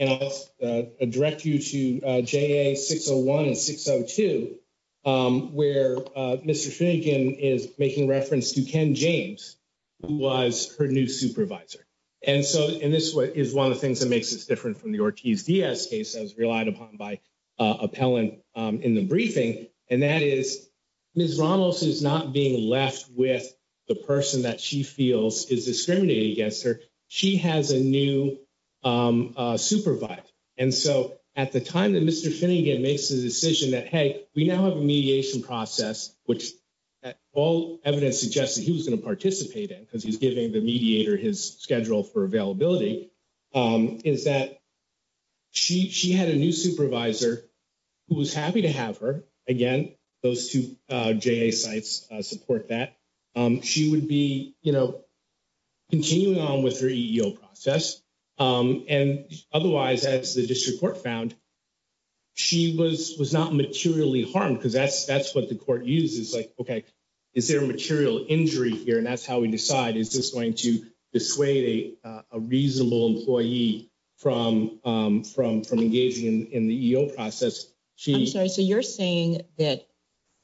I'll direct you to JA 601 and 602, where Mr. Finnegan is making reference to Ken James, who was her new supervisor. And so, and this is one of the things that makes us different from the Ortiz-Diaz case, as relied upon by Appellant in the briefing. And that is Ms. Ramos is not being left with the person that she feels is discriminating against her. She has a new supervisor. And so at the time that Mr. Finnegan makes the decision that, hey, we now have a mediation process, which all evidence suggests that he was going to participate in because he's giving the mediator his schedule for availability, is that she had a new supervisor who was happy to have her. Again, those two JA sites support that. She would be, you know, continuing on with her EEO process. And otherwise, as the district court found, she was not materially harmed because that's what the court uses. Like, okay, is there a material injury here? And that's how we decide is this going to dissuade a reasonable employee from engaging in the EEO process. I'm sorry. So you're saying that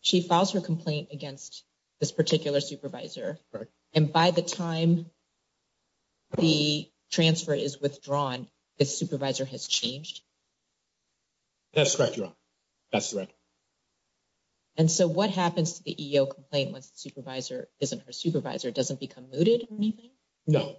she files her complaint against this particular supervisor. And by the time the transfer is withdrawn, the supervisor has changed? That's correct, Your Honor. That's correct. And so what happens to the EEO complaint once the supervisor isn't her supervisor? Doesn't become mooted or anything? No.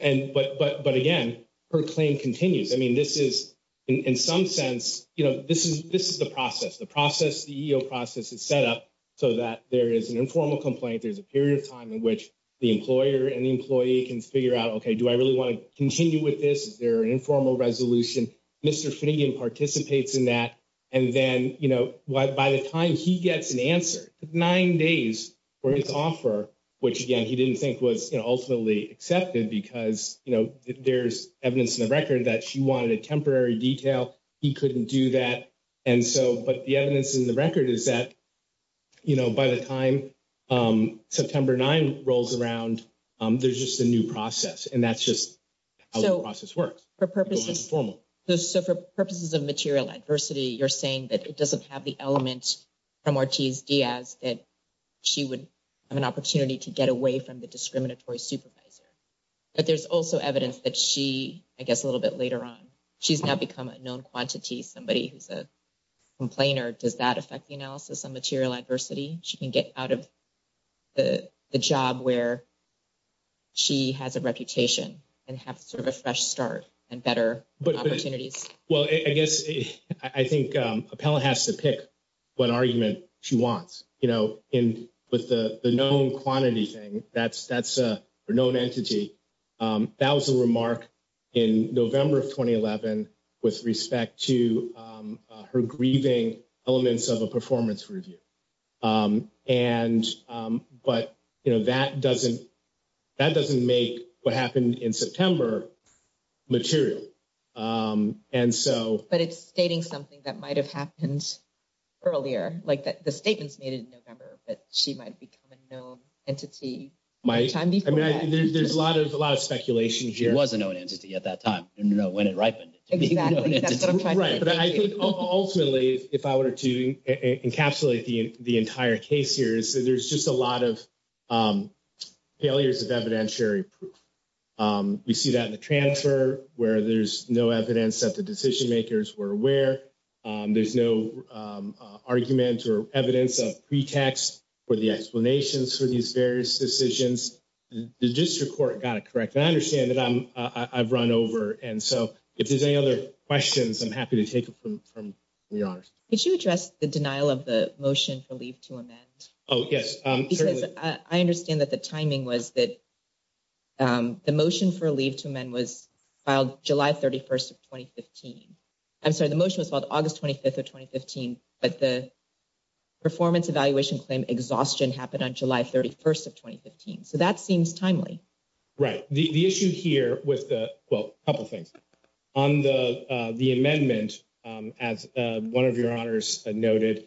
And but again, her claim continues. I mean, this is, in some sense, you know, this is the process. The process, the EEO process is set up so that there is an informal complaint. There's a period of time in which the employer and the employee can figure out, okay, do I really want to continue with this? Is there an informal resolution? Mr. Finnegan participates in that. And then, you know, by the time he gets an answer, nine days for his offer, which again, he didn't think was ultimately accepted because, you know, there's evidence in the record that she wanted a temporary detail. He couldn't do that. And so, but the evidence in the record is that, you know, by the time September 9 rolls around, there's just a new process. And that's just how the process works. So for purposes of material adversity, you're saying that it doesn't have the element from Ortiz Diaz that she would have an opportunity to get away from the discriminatory supervisor? But there's also evidence that she, I guess a little bit later on, she's now become a known quantity, somebody who's a complainer. Does that affect the analysis on material adversity? She can get out of the job where she has a reputation and have sort of a fresh start and better opportunities. Well, I guess I think Appella has to pick what argument she wants. You know, in with the known quantity thing, that's a known entity. That was a remark in November of 2011 with respect to her grieving elements of a performance review. And but, you know, that doesn't make what happened in September material. And so but it's stating something that might have happened earlier, like that the statements made in November, but she might become a known entity. I mean, there's a lot of a lot of speculation. She was a known entity at that time. You know, when it ripened. Exactly. Right. But I think ultimately, if I were to encapsulate the entire case here is that there's just a lot of failures of evidentiary proof. We see that in the transfer where there's no evidence that the decision makers were aware. There's no argument or evidence of pretext for the explanations for these various decisions. The district court got it correct. And I understand that I'm I've run over. And so if there's any other questions, I'm happy to take it from the honors. Could you address the denial of the motion for leave to amend? Oh, yes. Because I understand that the timing was that the motion for leave to amend was filed July 31st of 2015. I'm sorry. The motion was called August 25th of 2015, but the performance evaluation claim exhaustion happened on July 31st of 2015. So that seems timely, right? The issue here with a couple of things on the amendment, as one of your honors noted,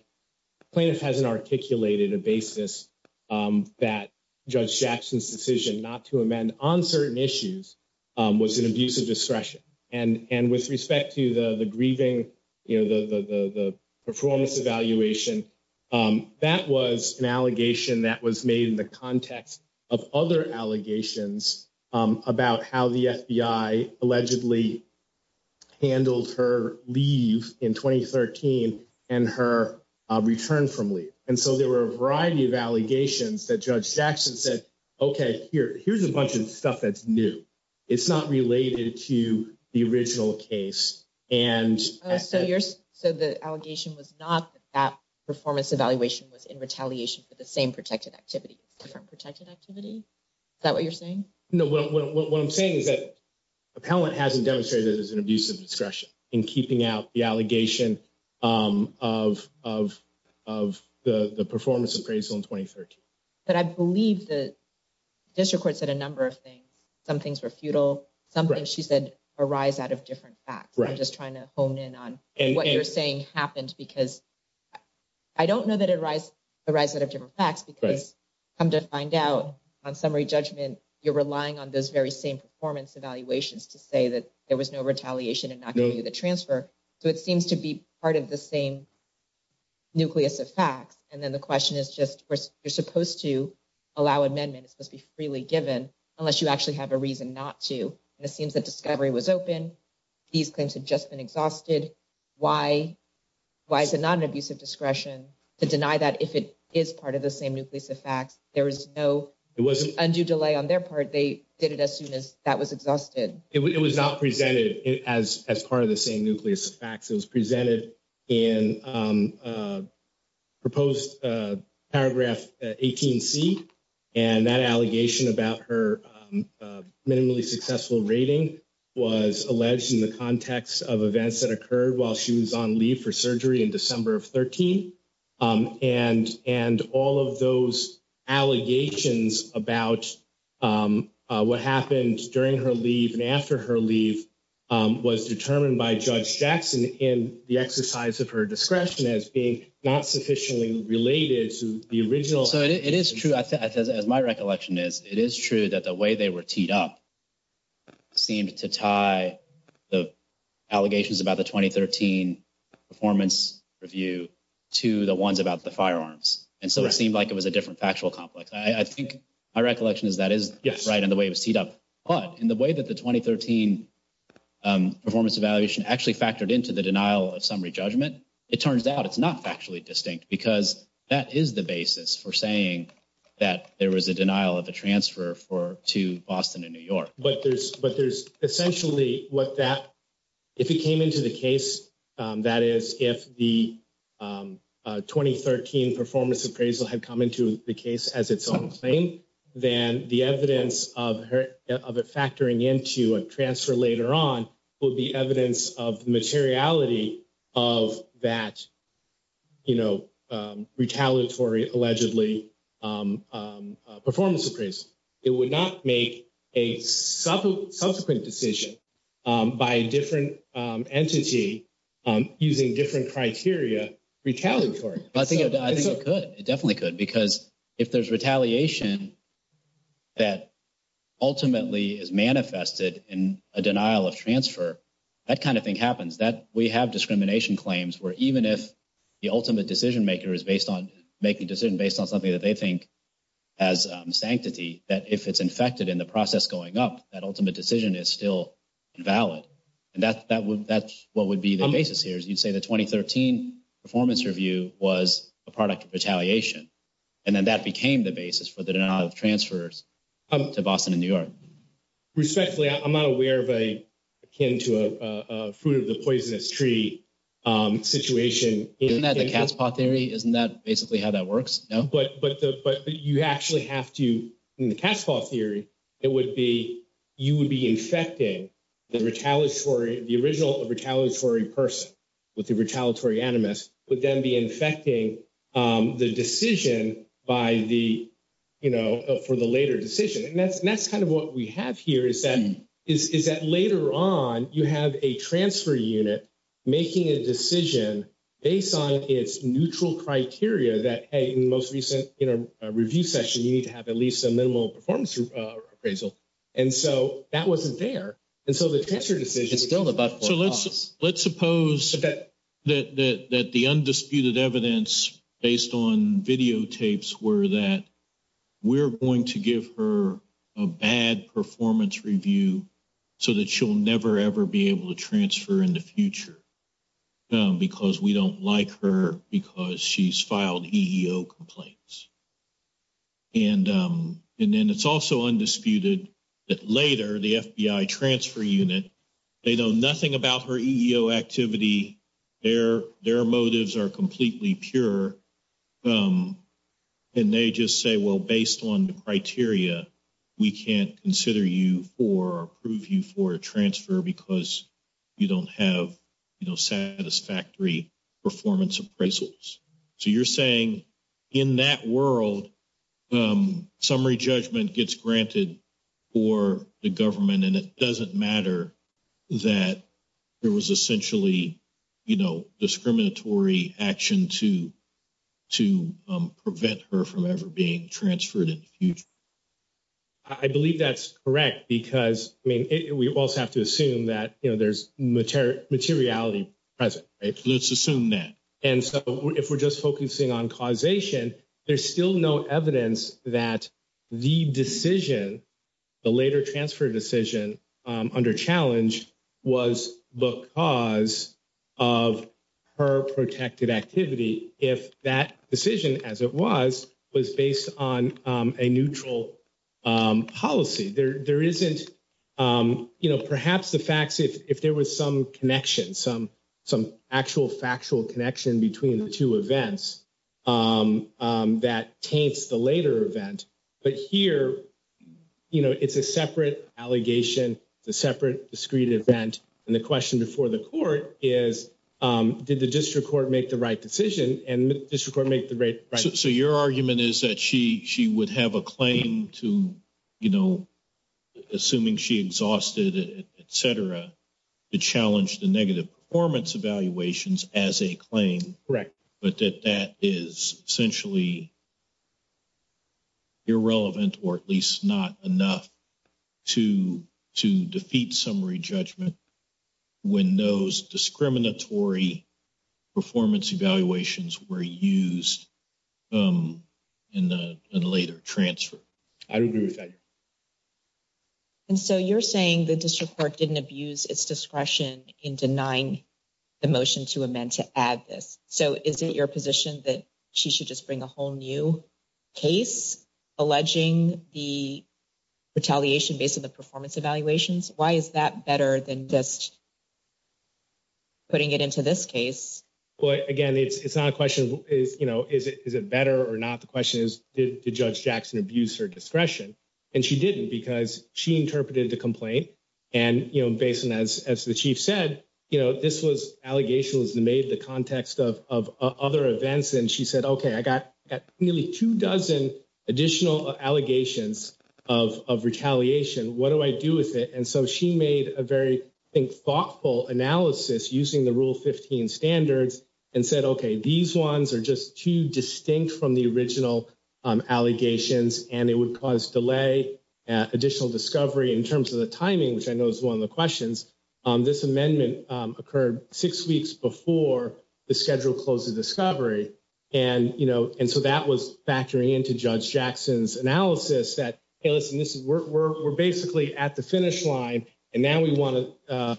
plaintiff has an articulated a basis. That judge Jackson's decision not to amend on certain issues was an abuse of discretion and with respect to the grieving, the performance evaluation. That was an allegation that was made in the context of other allegations about how the FBI allegedly handled her leave in 2013 and her return from leave. And so there were a variety of allegations that judge Jackson said, okay, here, here's a bunch of stuff. That's new. It's not related to the original case. And so you're so the allegation was not that performance evaluation was in retaliation for the same protected activity from protected activity. Is that what you're saying? No, what I'm saying is that appellant hasn't demonstrated as an abuse of discretion in keeping out the allegation of of of the performance appraisal in 2013. But I believe the district court said a number of things. Some things were futile. Something she said arise out of different facts. I'm just trying to hone in on what you're saying happened because I don't know that it arise arise out of different facts because come to find out on summary judgment. You're relying on those very same performance evaluations to say that there was no retaliation and not going to the transfer. So it seems to be part of the same nucleus of facts. And then the question is just where you're supposed to allow amendment. It's supposed to be freely given unless you actually have a reason not to. It seems that discovery was open. These claims have just been exhausted. Why? Why is it not an abuse of discretion to deny that if it is part of the same nucleus of facts? There was no it wasn't undue delay on their part. They did it as soon as that was exhausted. It was not presented as as part of the same nucleus of facts. It was presented in proposed paragraph 18 C and that allegation about her minimally successful rating was alleged in the context of events that occurred while she was on leave for surgery in December of 13. And and all of those allegations about what happened during her leave and after her leave was determined by Judge Jackson in the exercise of her discretion as being not sufficiently related to the original. So it is true as my recollection is it is true that the way they were teed up seemed to tie the allegations about the 2013 performance review to the ones about the firearms. And so it seemed like it was a different factual complex. I think my recollection is that is right in the way it was teed up, but in the way that the 2013 performance evaluation actually factored into the denial of summary judgment. It turns out it's not factually distinct because that is the basis for saying that there was a denial of a transfer for to Boston and New York. But there's but there's essentially what that if it came into the case, that is, if the 2013 performance appraisal had come into the case as its own claim, then the evidence of of it factoring into a transfer later on will be evidence of materiality of that, you know, retaliatory allegedly performance appraisal. It would not make a subsequent decision by a different entity using different criteria retaliatory. I think I think it could. It definitely could. Because if there's retaliation that ultimately is manifested in a denial of transfer, that kind of thing happens that we have discrimination claims where even if the ultimate decision maker is based on making decision based on something that they think as sanctity, that if it's infected in the process going up, that ultimate decision is still valid. And that that would that's what would be the basis here is you'd say the 2013 performance review was a product of retaliation. And then that became the basis for the denial of transfers to Boston and New York. Respectfully, I'm not aware of a akin to a fruit of the poisonous tree situation. Isn't that the cat's paw theory? Isn't that basically how that works? But you actually have to in the cat's paw theory, it would be you would be infecting the retaliatory, the original retaliatory person with the retaliatory animus would then be infecting the decision by the, you know, for the later decision. And that's that's kind of what we have here is that is that later on you have a transfer unit making a decision based on its neutral criteria that most recent review session, you need to have at least a minimal performance appraisal. And so that wasn't there. And so the cancer decision is still about. So let's let's suppose that that that the undisputed evidence based on videotapes were that we're going to give her a bad performance review so that she'll never, ever be able to transfer in the future. Because we don't like her because she's filed EEO complaints. And and then it's also undisputed that later the FBI transfer unit, they know nothing about her activity there. Their motives are completely pure. And they just say, well, based on the criteria, we can't consider you for prove you for transfer because you don't have satisfactory performance appraisals. So you're saying in that world, summary judgment gets granted for the government and it doesn't matter that there was essentially, you know, discriminatory action to to prevent her from ever being transferred in the future. I believe that's correct, because, I mean, we also have to assume that, you know, there's materiality present. Let's assume that. And so if we're just focusing on causation, there's still no evidence that the decision, the later transfer decision under challenge was because of her protected activity. If that decision, as it was, was based on a neutral policy, there isn't, you know, perhaps the facts, if there was some connection, some some actual factual connection between the two events that taints the later event. But here, you know, it's a separate allegation, the separate discreet event. And the question before the court is, did the district court make the right decision? And this record make the right. So your argument is that she she would have a claim to, you know, assuming she exhausted, et cetera, to challenge the negative performance evaluations as a claim. Correct. But that that is essentially irrelevant, or at least not enough to to defeat summary judgment when those discriminatory performance evaluations were used in the later transfer. I agree with that. And so you're saying the district court didn't abuse its discretion in denying the motion to amend to add this. So, is it your position that she should just bring a whole new case alleging the retaliation based on the performance evaluations? Why is that better than just putting it into this case? Well, again, it's not a question is, you know, is it better or not? The question is, did Judge Jackson abuse her discretion? And she didn't because she interpreted the complaint. And, you know, based on, as the chief said, you know, this was allegations made the context of other events. And she said, OK, I got nearly two dozen additional allegations of retaliation. What do I do with it? And so she made a very thoughtful analysis using the Rule 15 standards and said, OK, these ones are just too distinct from the original allegations and it would cause delay, additional discovery in terms of the timing, which I know is one of the questions. This amendment occurred six weeks before the schedule closes discovery. And, you know, and so that was factoring into Judge Jackson's analysis that, hey, listen, this is where we're basically at the finish line. And now we want to.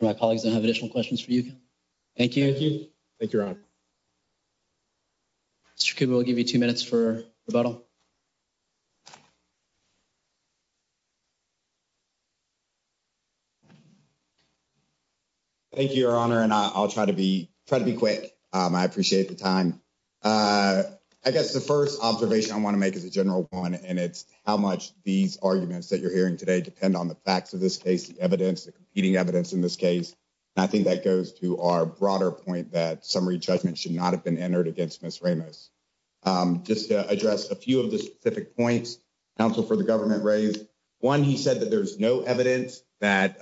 My colleagues, I have additional questions for you. Thank you. Thank you. Thank you. We'll give you two minutes for the bottle. Thank you, your honor, and I'll try to be try to be quick. I appreciate the time. I guess the first observation I want to make is a general one and it's how much these arguments that you're hearing today depend on the facts of this case. The evidence, the competing evidence in this case, I think that goes to our broader point that summary judgment should not have been entered against Miss Ramos just to address a few of the specific points counsel for the government raised one. He said that there's no evidence that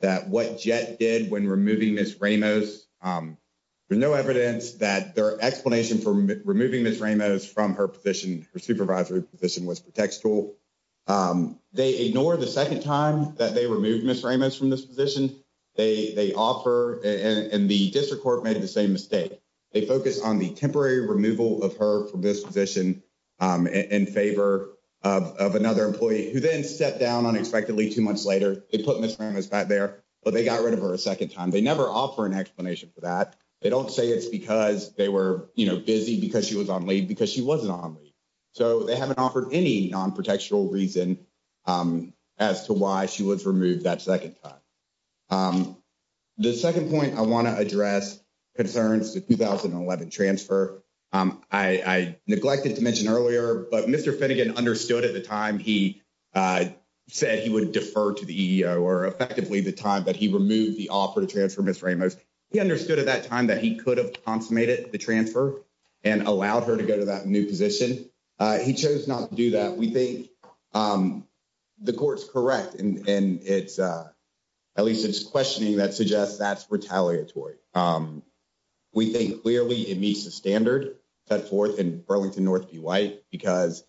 that what jet did when removing Miss Ramos. There's no evidence that their explanation for removing Miss Ramos from her position. Supervisor position was protects tool. They ignore the 2nd time that they removed Miss Ramos from this position. They offer and the district court made the same mistake. They focus on the temporary removal of her from this position in favor of another employee who then stepped down unexpectedly 2 months later. They put Miss Ramos back there, but they got rid of her a 2nd time. They never offer an explanation for that. They don't say it's because they were busy because she was on leave because she wasn't on me. So, they haven't offered any non protectural reason as to why she was removed that 2nd time. The 2nd point I want to address concerns to 2011 transfer. I neglected to mention earlier, but Mr. Finnegan understood at the time he said he would defer to the or effectively the time that he removed the offer to transfer Miss Ramos. He understood at that time that he could have consummated the transfer and allowed her to go to that new position. He chose not to do that. We think the court's correct and it's at least it's questioning that suggests that's retaliatory. We think clearly it meets the standard set forth in Burlington North B White because.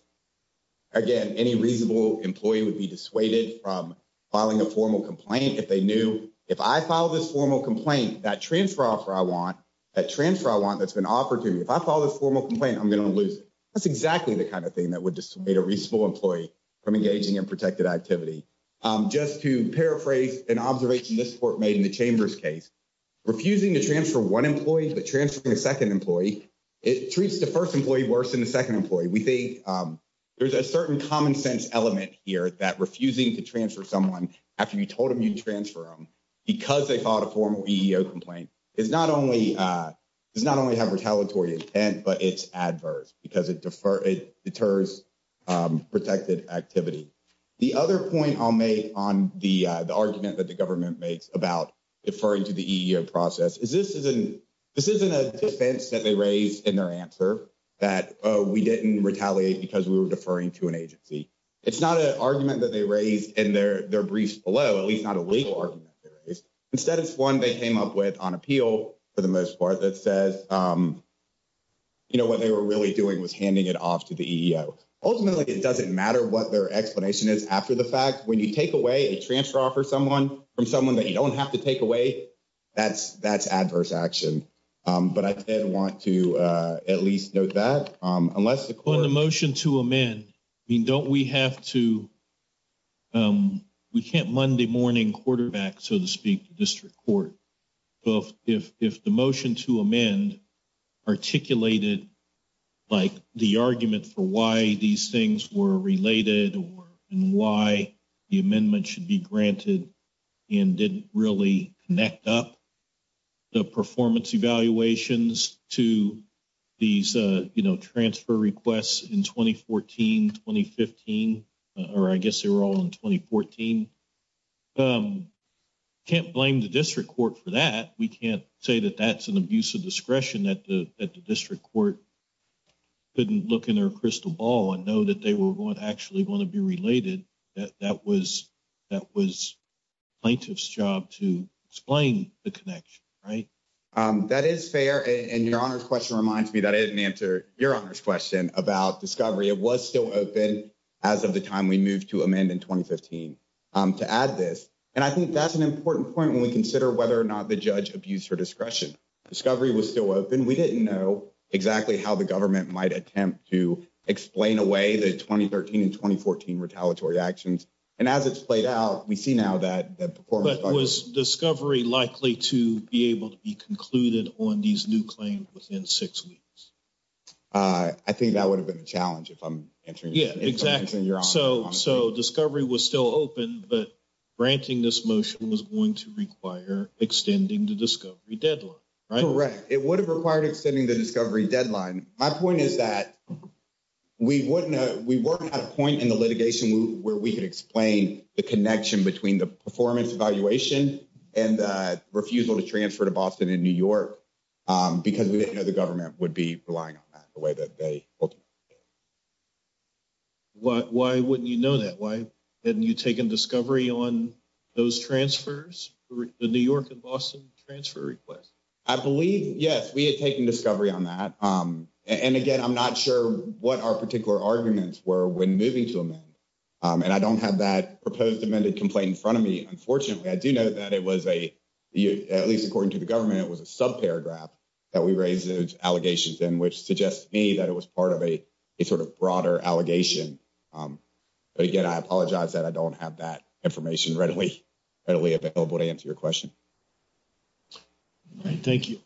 Again, any reasonable employee would be dissuaded from filing a formal complaint if they knew if I file this formal complaint that transfer offer I want that transfer I want that's been offered to me. If I follow this formal complaint, I'm going to lose it. That's exactly the kind of thing that would dissuade a reasonable employee from engaging in protected activity. Just to paraphrase an observation this court made in the chamber's case, refusing to transfer 1 employee, but transferring a 2nd employee, it treats the 1st employee worse than the 2nd employee. We think there's a certain common sense element here that refusing to transfer someone after you told him you'd transfer him because they filed a formal EEO complaint is not only does not only have retaliatory intent, but it's adverse because it differs. It deters protected activity. The other point I'll make on the argument that the government makes about deferring to the EEO process is this isn't this isn't a defense that they raised in their answer that we didn't retaliate because we were deferring to an agency. It's not an argument that they raised in their briefs below, at least not a legal argument. Instead, it's 1, they came up with on appeal for the most part that says. You know, what they were really doing was handing it off to the ultimately it doesn't matter what their explanation is after the fact, when you take away a transfer offer someone from someone that you don't have to take away. That's that's adverse action, but I didn't want to at least know that unless the motion to amend. I mean, don't we have to we can't Monday morning quarterback so to speak district court. Well, if if the motion to amend articulated. Like, the argument for why these things were related and why the amendment should be granted. And didn't really connect up the performance evaluations to. These transfer requests in 2014, 2015, or I guess they were all in 2014. Can't blame the district court for that. We can't say that that's an abuse of discretion that the district court. Couldn't look in their crystal ball and know that they were going to actually want to be related. That was that was plaintiff's job to explain the connection, right? That is fair and your honor's question reminds me that I didn't answer your honor's question about discovery. It was still open as of the time we moved to amend in 2015 to add this. And I think that's an important point when we consider whether or not the judge abuse or discretion discovery was still open. We didn't know exactly how the government might attempt to explain away the 2013 and 2014 retaliatory actions. And as it's played out, we see now that that performance was discovery likely to be able to be concluded on these new claims within 6 weeks. I think that would have been a challenge if I'm answering. Yeah, exactly. So, so discovery was still open, but granting this motion was going to require extending the discovery deadline, right? Correct. It would have required extending the discovery deadline. My point is that we wouldn't know. We weren't at a point in the litigation where we could explain the connection between the performance evaluation and refusal to transfer to Boston in New York. Because we didn't know the government would be relying on that the way that they. Why, why wouldn't you know that? Why didn't you take a discovery on those transfers to New York and Boston transfer request? I believe, yes, we had taken discovery on that. And again, I'm not sure what our particular arguments were when moving to amend. And I don't have that proposed amended complaint in front of me. Unfortunately, I do know that it was a, at least according to the government, it was a sub paragraph. That we raised allegations in, which suggests to me that it was part of a sort of broader allegation. But again, I apologize that I don't have that information readily readily available to answer your question. Thank you.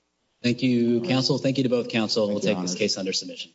Thank you. Counsel. Thank you to both counsel. We'll take this case under submission.